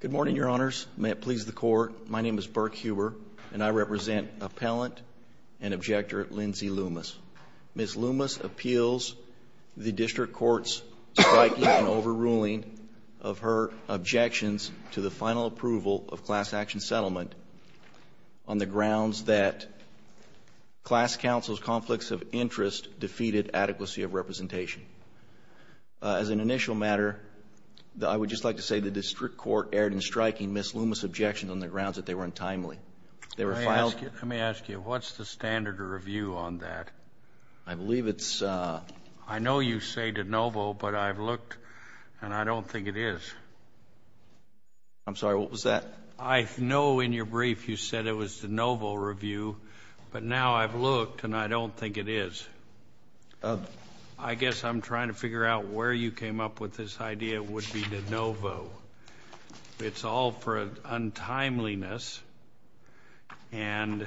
Good morning, Your Honors. May it please the Court, my name is Burke Huber, and I represent Appellant and Objector Lindsey Loomis. Ms. Loomis appeals the District Court's striking and overruling of her objections to the final approval of class action settlement on the grounds that class counsel's conflicts of interest defeated adequacy of representation. As an initial matter, I would just like to say that the District Court erred in striking Ms. Loomis' objections on the grounds that they were untimely. Let me ask you, what's the standard review on that? I believe it's... I know you say de novo, but I've looked and I don't think it is. I'm sorry, what was that? I know in your brief you said it was de novo review, but now I've looked and I don't think it is. I guess I'm trying to figure out where you came up with this idea would be de novo. It's all for untimeliness and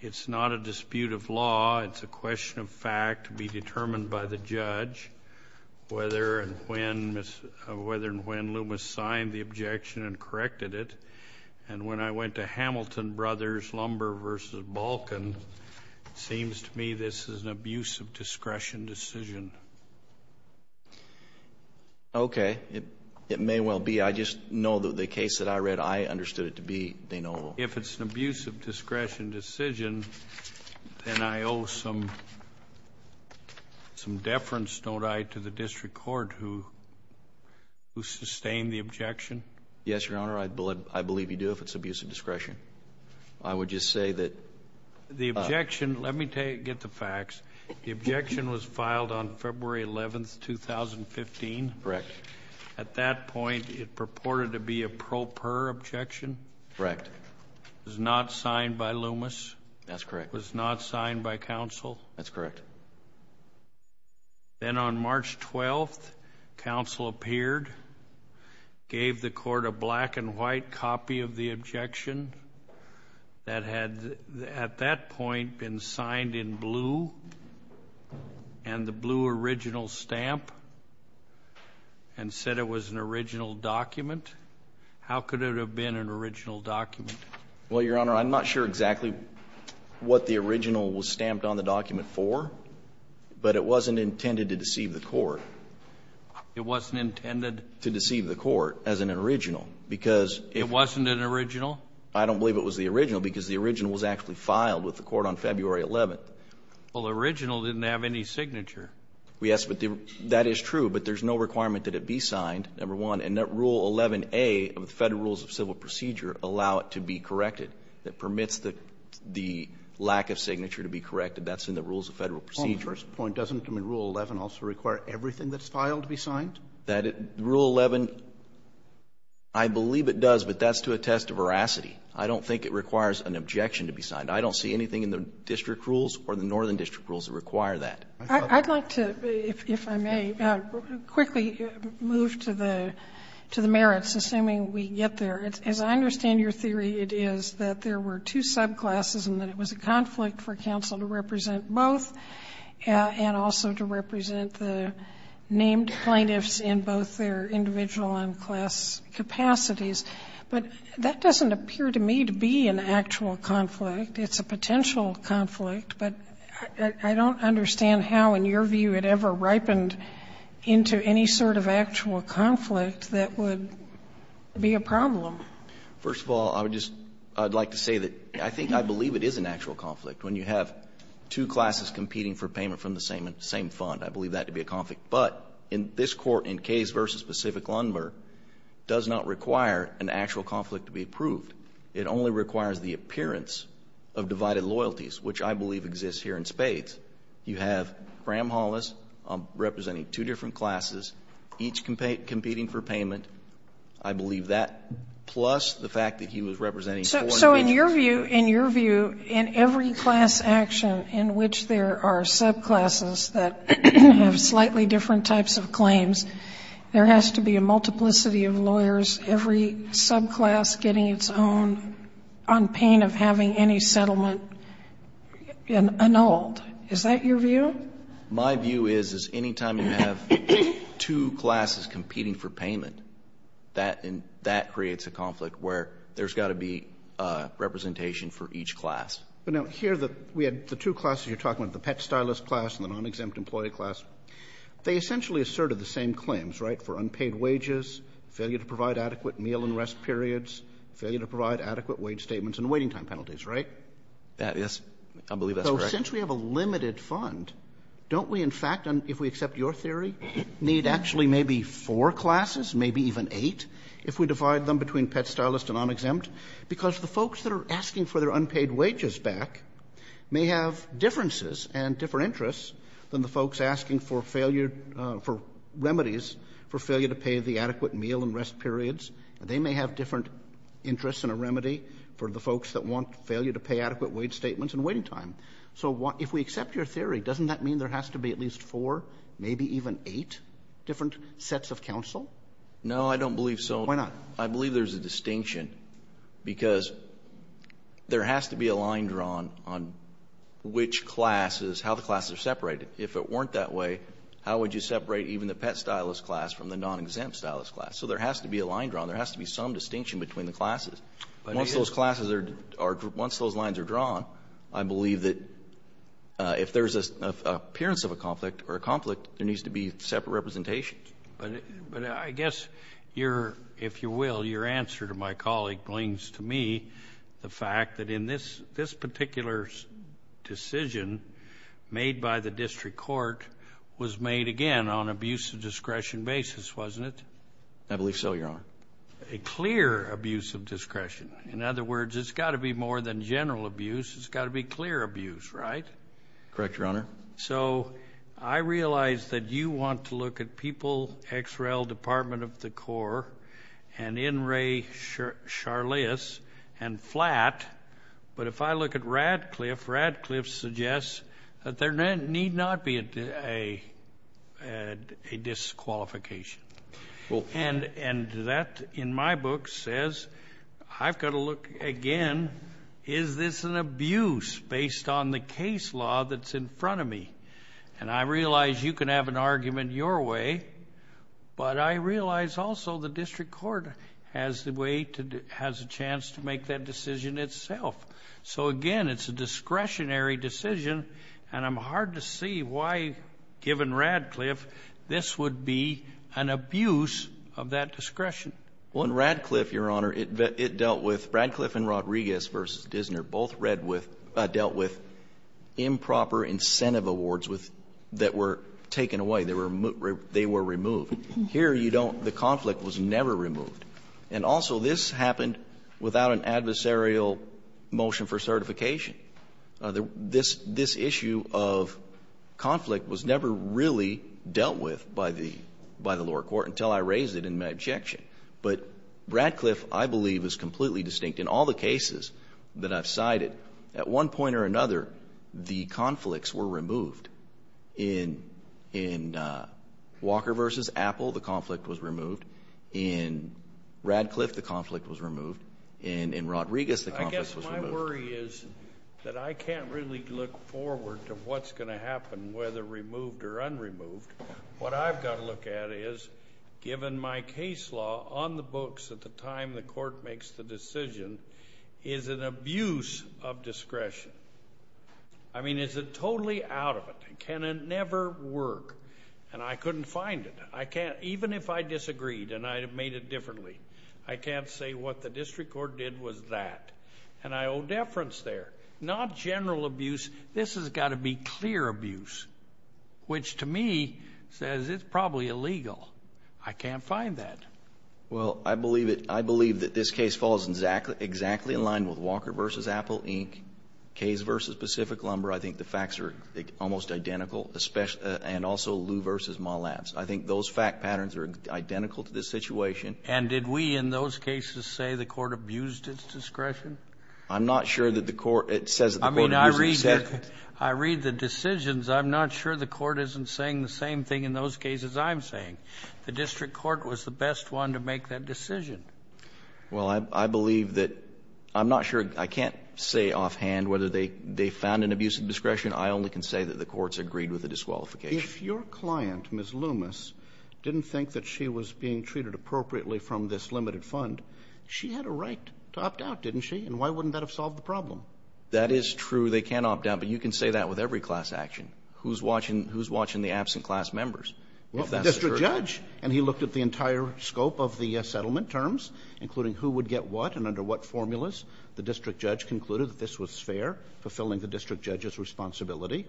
it's not a dispute of law, it's a question of fact to be determined by the judge whether and when Loomis signed the objection and corrected it. And when I went to Hamilton Brothers Lumber v. Balkin, it seems to me this is an abuse of discretion decision. Okay, it may well be. I just know that the case that I read, I understood it to be de novo. If it's an abuse of discretion decision, then I owe some deference, don't I, to the District Court who sustained the objection? Yes, Your Honor, I believe you do if it's abuse of discretion. I would just say that... The objection, let me get the facts, the objection was filed on February 11th, 2015? Correct. At that point, it purported to be a pro per objection? Correct. It was not signed by Loomis? That's correct. It was not signed by counsel? That's correct. Then on March 12th, counsel appeared, gave the court a black and white copy of the objection that had at that point been signed in blue, and the blue original stamp, and said it was an original document? How could it have been an original document? Well, Your Honor, I'm not sure exactly what the original was stamped on the document for, but it wasn't intended to deceive the court. It wasn't intended... To deceive the court as an original, because... It wasn't an original? I don't believe it was the original, because the original was actually filed with the court on February 11th. Well, the original didn't have any signature. Yes, but that is true, but there's no requirement that it be signed, number one, and that Rule 11a of the Federal Rules of Civil Procedure allow it to be corrected. That permits the lack of signature to be corrected, that's in the Rules of Federal Procedure. Well, first point, doesn't Rule 11 also require everything that's filed to be signed? Rule 11, I believe it does, but that's to attest to veracity. I don't think it requires an objection to be signed. I don't see anything in the district rules or the northern district rules that require that. I'd like to, if I may, quickly move to the merits, assuming we get there. As I understand your theory, it is that there were two subclasses and that it was a conflict for counsel to represent both and also to represent the named plaintiffs in both their individual and class capacities. But that doesn't appear to me to be an actual conflict. It's a potential conflict, but I don't understand how in your view it ever ripened into any sort of actual conflict that would be a problem. First of all, I would just like to say that I think I believe it is an actual conflict. When you have two classes competing for payment from the same fund, I believe that to be a conflict. But in this Court, in Case v. Pacific Lundberg, does not require an actual conflict to be approved. It only requires the appearance of divided loyalties, which I believe exists here in spades. You have Graham Hollis representing two different classes, each competing for payment. I believe that plus the fact that he was representing four different classes. So in your view, in your view, in every class action in which there are subclasses that have slightly different types of claims, there has to be a multiplicity of lawyers, every subclass getting its own on pain of having any settlement annulled. Is that your view? My view is, is anytime you have two classes competing for payment, that creates a conflict where there's got to be representation for each class. But now here, we had the two classes you're talking about, the pet stylist class and the non-exempt employee class. They essentially asserted the same claims, right, for unpaid wages, failure to provide adequate meal and rest periods, failure to provide adequate wage statements and waiting time penalties, right? Yes. I believe that's correct. So since we have a limited fund, don't we in fact, if we accept your theory, need actually maybe four classes, maybe even eight, if we divide them between pet stylist and non-exempt? Because the folks that are asking for their unpaid wages back may have differences and different interests than the folks asking for failure, for remedies, for failure to pay the adequate meal and rest periods. They may have different interests and a remedy for the folks that want failure to pay adequate wage statements and waiting time. So if we accept your theory, doesn't that mean there has to be at least four, maybe even eight different sets of counsel? No, I don't believe so. Why not? I believe there's a distinction because there has to be a line drawn on which classes, how the classes are separated. If it weren't that way, how would you separate even the pet stylist class from the non-exempt stylist class? So there has to be a line drawn. There has to be some distinction between the classes. Once those classes are or once those lines are drawn, I believe that if there's an appearance of a conflict or a conflict, there needs to be separate representations. But I guess your, if you will, your answer to my colleague, blings to me the fact that in this particular decision made by the district court was made, again, on abuse of discretion basis. Wasn't it? I believe so, Your Honor. A clear abuse of discretion. In other words, it's got to be more than general abuse. It's got to be clear abuse, right? Correct, Your Honor. So I realize that you want to look at People, XREL, Department of the Corps, and In re Charleas, and flat. But if I look at Radcliffe, Radcliffe suggests that there need not be a disqualification. And that, in my book, says, I've got to look again. Is this an abuse based on the case law that's in front of me? And I realize you can have an argument your way, but I realize also the district court has a chance to make that decision itself. So again, it's a discretionary decision, and I'm hard to see why, given Radcliffe, this would be an abuse of that discretion. Well, in Radcliffe, Your Honor, it dealt with Radcliffe and Rodriguez v. Dissner both dealt with improper incentive awards that were taken away. They were removed. Here, you don't. The conflict was never removed. And also, this happened without an adversarial motion for certification. This issue of conflict was never really dealt with by the lower court until I raised it in my objection. But Radcliffe, I believe, is completely distinct. In all the cases that I've cited, at one point or another, the conflicts were removed. In Walker v. Apple, the conflict was removed. In Radcliffe, the conflict was removed. And in Rodriguez, the conflict was removed. My worry is that I can't really look forward to what's going to happen, whether removed or unremoved. What I've got to look at is, given my case law on the books at the time the court makes the decision, is an abuse of discretion. I mean, is it totally out of it? Can it never work? And I couldn't find it. I can't, even if I disagreed and I made it differently, I can't say what the district court did was that. And I owe deference there. Not general abuse. This has got to be clear abuse, which, to me, says it's probably illegal. I can't find that. Well, I believe that this case falls exactly in line with Walker v. Apple, Inc., Cays v. Pacific Lumber. I think the facts are almost identical, and also Lew v. Mollabs. I think those fact patterns are identical to this situation. And did we in those cases say the court abused its discretion? I'm not sure that the court says that the court abused its discretion. I mean, I read the decisions. I'm not sure the court isn't saying the same thing in those cases I'm saying. The district court was the best one to make that decision. Well, I believe that — I'm not sure. I can't say offhand whether they found an abuse of discretion. I only can say that the courts agreed with the disqualification. If your client, Ms. Loomis, didn't think that she was being treated appropriately from this limited fund, she had a right to opt out, didn't she? And why wouldn't that have solved the problem? That is true. They can opt out. But you can say that with every class action. Who's watching the absent class members? Well, the district judge. And he looked at the entire scope of the settlement terms, including who would get what and under what formulas. The district judge concluded that this was fair, fulfilling the district judge's responsibility.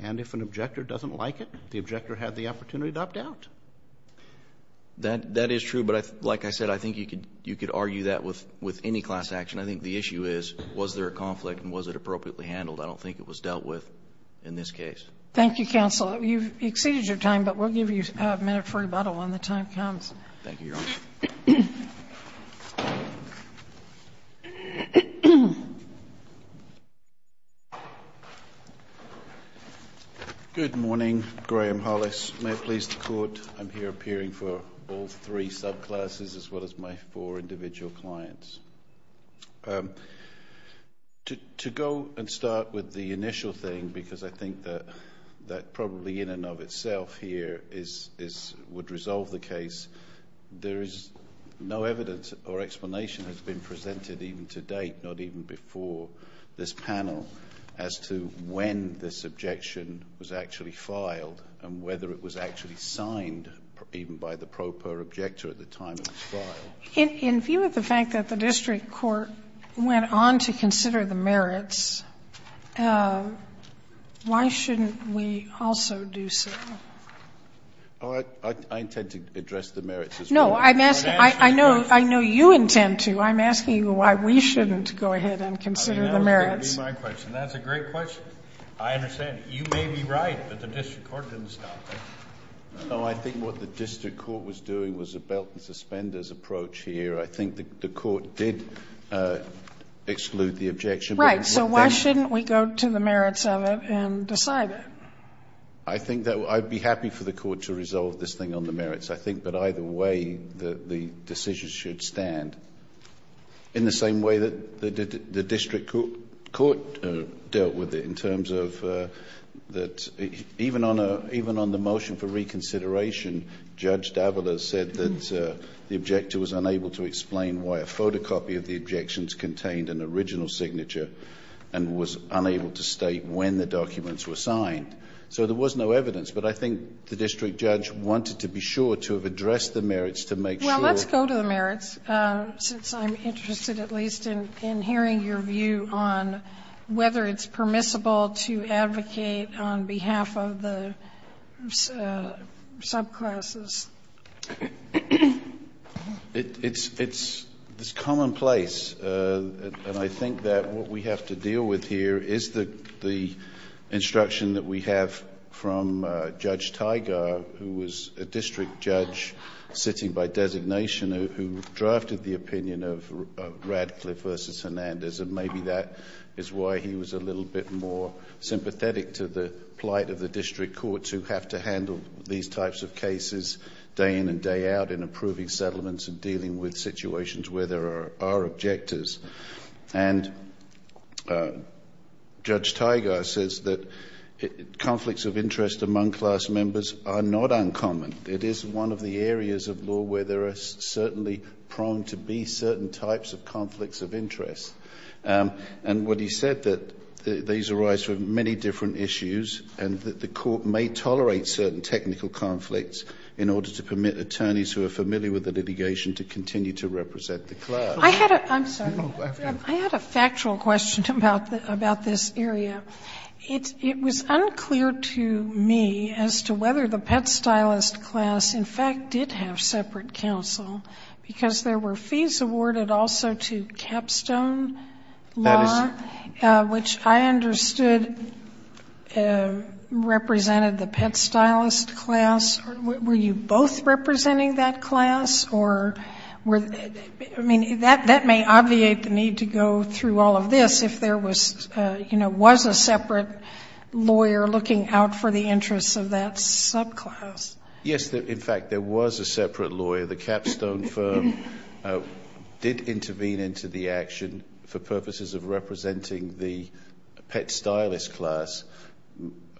And if an objector doesn't like it, the objector had the opportunity to opt out. That is true. But like I said, I think you could argue that with any class action. I think the issue is, was there a conflict and was it appropriately handled? I don't think it was dealt with in this case. Thank you, counsel. You've exceeded your time, but we'll give you a minute for rebuttal when the time comes. Thank you, Your Honor. Good morning. Graham Hollis. May it please the Court. I'm here appearing for all three subclasses as well as my four individual clients. To go and start with the initial thing, because I think that probably in and of itself here would resolve the case, there is no evidence or explanation has been presented even to date, not even before this panel, as to when this objection was actually filed and whether it was actually signed even by the proper objector at the time it was filed. In view of the fact that the district court went on to consider the merits, why shouldn't we also do so? I intend to address the merits as well. No, I know you intend to. I'm asking you why we shouldn't go ahead and consider the merits. That's a great question. I understand. You may be right that the district court didn't stop it. No, I think what the district court was doing was a belt and suspenders approach here. I think the court did exclude the objection. Right. Why shouldn't we go to the merits of it and decide it? I think that I'd be happy for the court to resolve this thing on the merits. I think that either way the decision should stand. In the same way that the district court dealt with it in terms of that even on the motion for reconsideration, Judge Davila said that the objector was unable to explain why a photocopy of the objections contained an original signature and was unable to state when the documents were signed. So there was no evidence. But I think the district judge wanted to be sure to have addressed the merits to make sure. Well, let's go to the merits, since I'm interested at least in hearing your view on whether it's permissible to advocate on behalf of the subclasses. It's commonplace. And I think that what we have to deal with here is the instruction that we have from Judge Tiger, who was a district judge sitting by designation who drafted the opinion of Radcliffe v. Hernandez. And maybe that is why he was a little bit more sympathetic to the plight of the district courts who have to handle these types of cases day in and day out in approving settlements and dealing with situations where there are objectors. And Judge Tiger says that conflicts of interest among class members are not uncommon. It is one of the areas of law where there are certainly prone to be certain types of conflicts of interest. And what he said, that these arise from many different issues, and that the court may tolerate certain technical conflicts in order to permit attorneys who are familiar with the litigation to continue to represent the class. I had a factual question about this area. It was unclear to me as to whether the pet stylist class, in fact, did have separate counsel, because there were fees awarded also to capstone law, which I understood represented the pet stylist class. Were you both representing that class? I mean, that may obviate the need to go through all of this if there was, you know, was a separate lawyer looking out for the interests of that subclass. Yes. In fact, there was a separate lawyer. The capstone firm did intervene into the action for purposes of representing the pet stylist class.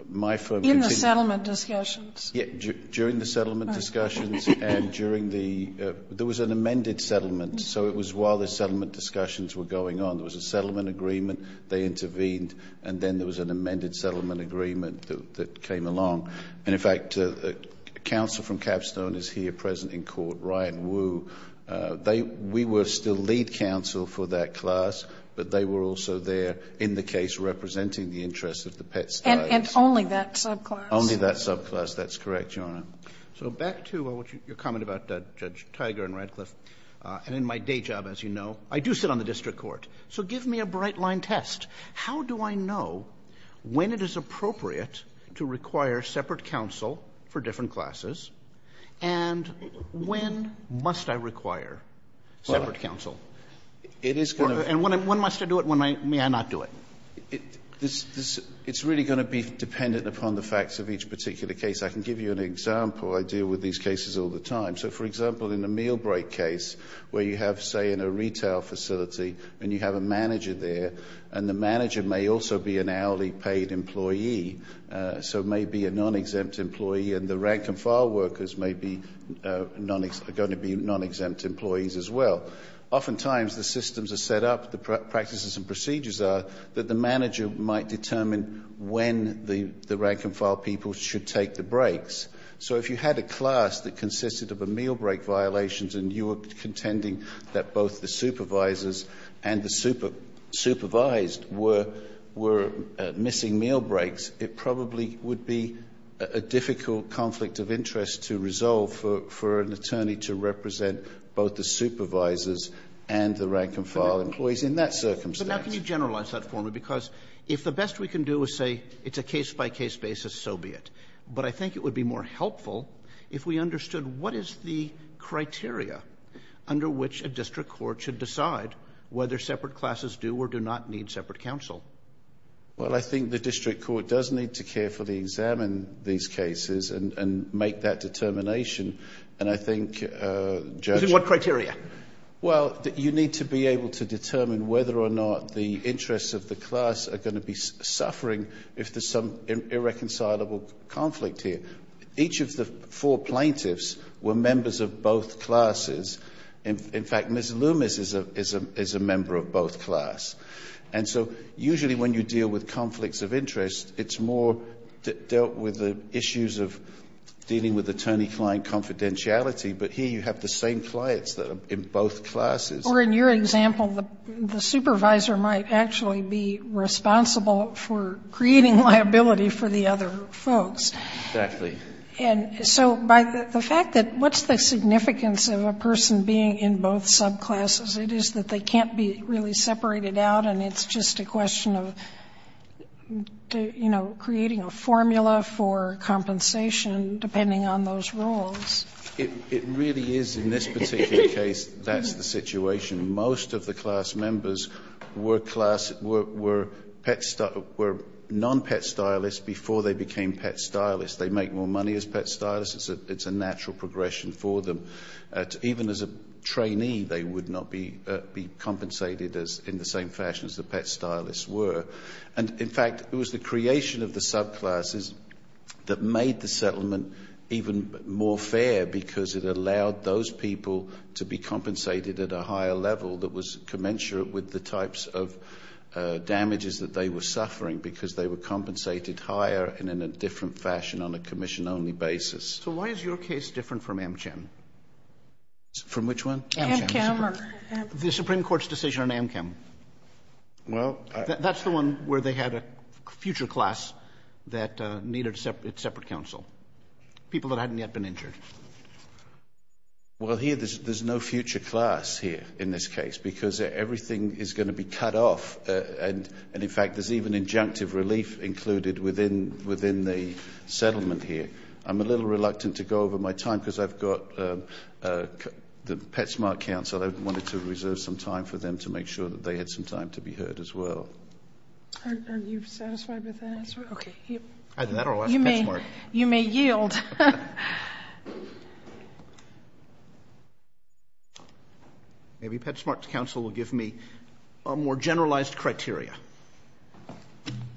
My firm... In the settlement discussions. Yeah. During the settlement discussions and during the... There was an amended settlement. So it was while the settlement discussions were going on, there was a settlement agreement, they intervened, and then there was an amended settlement agreement that came along. And, in fact, counsel from capstone is here present in court, Ryan Wu. We were still lead counsel for that class, but they were also there in the case representing the interests of the pet stylist. And only that subclass. Only that subclass. That's correct, Your Honor. So back to your comment about Judge Tiger and Radcliffe. And in my day job, as you know, I do sit on the district court. So give me a bright-line test. How do I know when it is appropriate to require separate counsel for different classes, and when must I require separate counsel? It is going to... And when must I do it, when may I not do it? It's really going to be dependent upon the facts of each particular case. I can give you an example. I deal with these cases all the time. So, for example, in the meal break case where you have, say, in a retail facility and you have a manager there, and the manager may also be an hourly paid employee, so may be a non-exempt employee, and the rank-and-file workers may be going to be non-exempt employees as well. Oftentimes, the systems are set up, the practices and procedures are, that the manager might determine when the rank-and-file people should take the breaks. So if you had a class that consisted of a meal break violations and you were contending that both the supervisors and the supervised were missing meal breaks, it probably would be a difficult conflict of interest to resolve for an attorney to represent both the supervisors and the rank-and-file employees in that circumstance. But now can you generalize that for me? Because if the best we can do is say it's a case-by-case basis, so be it. But I think it would be more helpful if we understood what is the criteria under which a district court should decide whether separate classes do or do not need separate counsel. Well, I think the district court does need to carefully examine these cases and make that determination. And I think, Judge— Using what criteria? Well, you need to be able to determine whether or not the interests of the class are going to be suffering if there's some irreconcilable conflict here. Each of the four plaintiffs were members of both classes. In fact, Ms. Loomis is a member of both class. And so usually when you deal with conflicts of interest, it's more dealt with the issues of dealing with attorney-client confidentiality. But here you have the same clients that are in both classes. Or in your example, the supervisor might actually be responsible for creating liability for the other folks. Exactly. And so by the fact that what's the significance of a person being in both subclasses? It is that they can't be really separated out, and it's just a question of, you know, creating a formula for compensation depending on those roles. It really is in this particular case, that's the situation. Most of the class members were class — were non-pet stylists before they became pet stylists. They make more money as pet stylists. It's a natural progression for them. Even as a trainee, they would not be compensated in the same fashion as the pet stylists were. And in fact, it was the creation of the subclasses that made the settlement even more fair because it allowed those people to be compensated at a higher level that was commensurate with the types of damages that they were suffering because they were compensated higher and in a different fashion on a commission-only basis. So why is your case different from AmChem? From which one? AmChem. The Supreme Court's decision on AmChem. Well — That's the one where they had a future class that needed separate counsel. People that hadn't yet been injured. Well, here there's no future class here in this case because everything is going to be in the settlement here. I'm a little reluctant to go over my time because I've got the PetSmart counsel. I wanted to reserve some time for them to make sure that they had some time to be heard as well. Are you satisfied with that answer? Okay. You may yield. Maybe PetSmart's counsel will give me a more generalized criteria.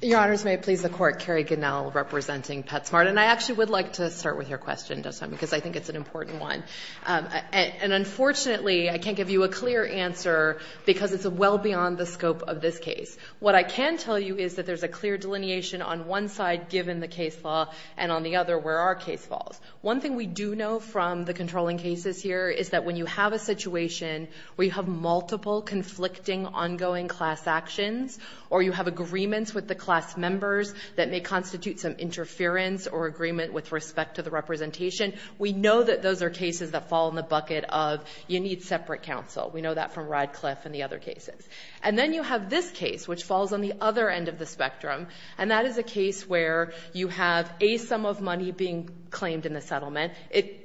Your Honors, may it please the Court, Kerri Gunnell representing PetSmart. And I actually would like to start with your question, because I think it's an important one. And unfortunately, I can't give you a clear answer because it's well beyond the scope of this case. What I can tell you is that there's a clear delineation on one side given the case law and on the other where our case falls. One thing we do know from the controlling cases here is that when you have a situation where you have multiple conflicting ongoing class actions or you have agreements with the class members that may constitute some interference or agreement with respect to the representation, we know that those are cases that fall in the bucket of you need separate counsel. We know that from Radcliffe and the other cases. And then you have this case, which falls on the other end of the spectrum, and that is a case where you have a sum of money being claimed in the settlement.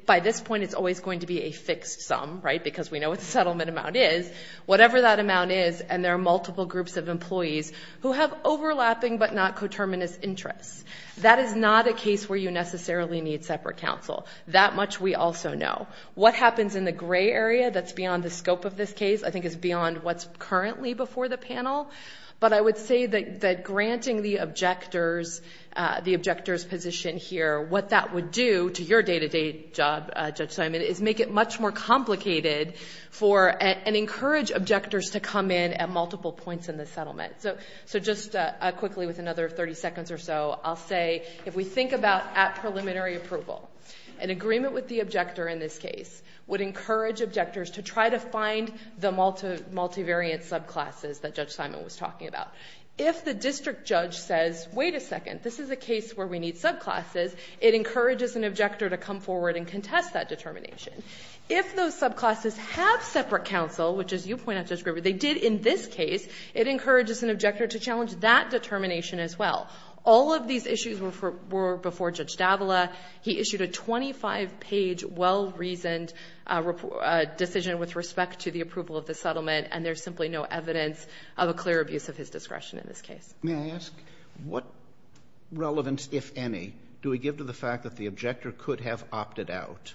By this point, it's always going to be a fixed sum, right, because we know what the settlement amount is. Whatever that amount is, and there are multiple groups of employees who have overlapping but not coterminous interests. That is not a case where you necessarily need separate counsel. That much we also know. What happens in the gray area that's beyond the scope of this case, I think is beyond what's currently before the panel. But I would say that granting the objector's position here, what that would do to your day-to-day job, Judge Simon, is make it much more complicated and encourage objectors to come in at multiple points in the settlement. So just quickly, with another 30 seconds or so, I'll say if we think about at preliminary approval, an agreement with the objector in this case would encourage objectors to try to find the multivariate subclasses that Judge Simon was talking about. If the district judge says, wait a second, this is a case where we need subclasses, it encourages an objector to come forward and contest that determination. If those subclasses have separate counsel, which as you point out, Judge Griever, they did in this case, it encourages an objector to challenge that determination as well. All of these issues were before Judge D'Avila. He issued a 25-page, well-reasoned decision with respect to the approval of the settlement, and there's simply no evidence of a clear abuse of his discretion in this case. Roberts, may I ask, what relevance, if any, do we give to the fact that the objector could have opted out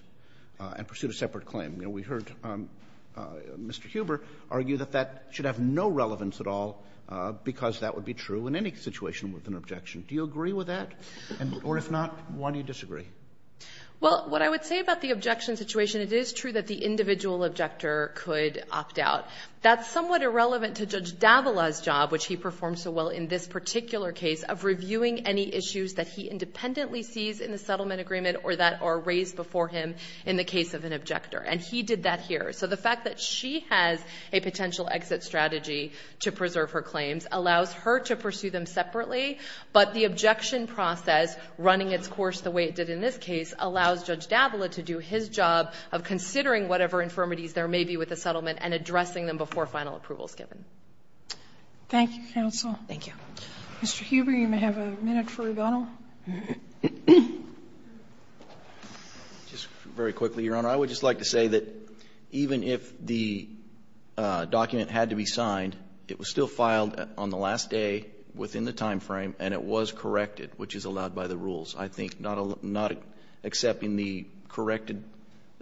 and pursued a separate claim? You know, we heard Mr. Huber argue that that should have no relevance at all because that would be true in any situation with an objection. Do you agree with that? Or if not, why do you disagree? Well, what I would say about the objection situation, it is true that the individual objector could opt out. That's somewhat irrelevant to Judge D'Avila's job, which he performed so well in this particular case, of reviewing any issues that he independently sees in the settlement agreement or that are raised before him in the case of an objector. And he did that here. So the fact that she has a potential exit strategy to preserve her claims allows her to pursue them separately, but the objection process, running its course the way it did in this case, allows Judge D'Avila to do his job of considering whatever infirmities there may be with the settlement and addressing them before final approval is given. Thank you, counsel. Thank you. Mr. Huber, you may have a minute for rebuttal. Just very quickly, Your Honor. I would just like to say that even if the document had to be signed, it was still filed on the last day within the time frame, and it was corrected, which is allowed by the rules. I think not accepting the corrected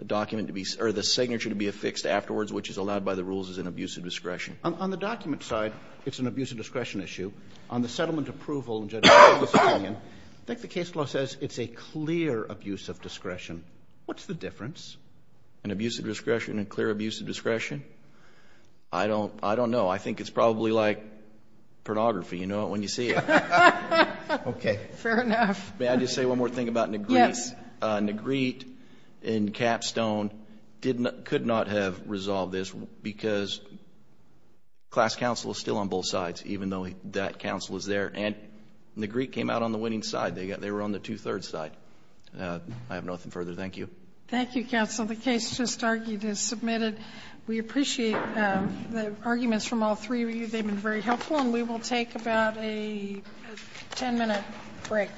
document to be or the signature to be affixed afterwards, which is allowed by the rules, is an abuse of discretion. On the document side, it's an abuse of discretion issue. On the settlement approval, in Judge D'Avila's opinion, I think the case law says it's a clear abuse of discretion. What's the difference? An abuse of discretion, a clear abuse of discretion? I don't know. I think it's probably like pornography. You know it when you see it. Okay. Fair enough. May I just say one more thing about Negrit and Capstone? Could not have resolved this because class counsel is still on both sides, even though that counsel is there. And Negrit came out on the winning side. They were on the two-thirds side. I have nothing further. Thank you. Thank you, counsel. The case just argued is submitted. We appreciate the arguments from all three of you. They've been very helpful. We will take about a ten minute break.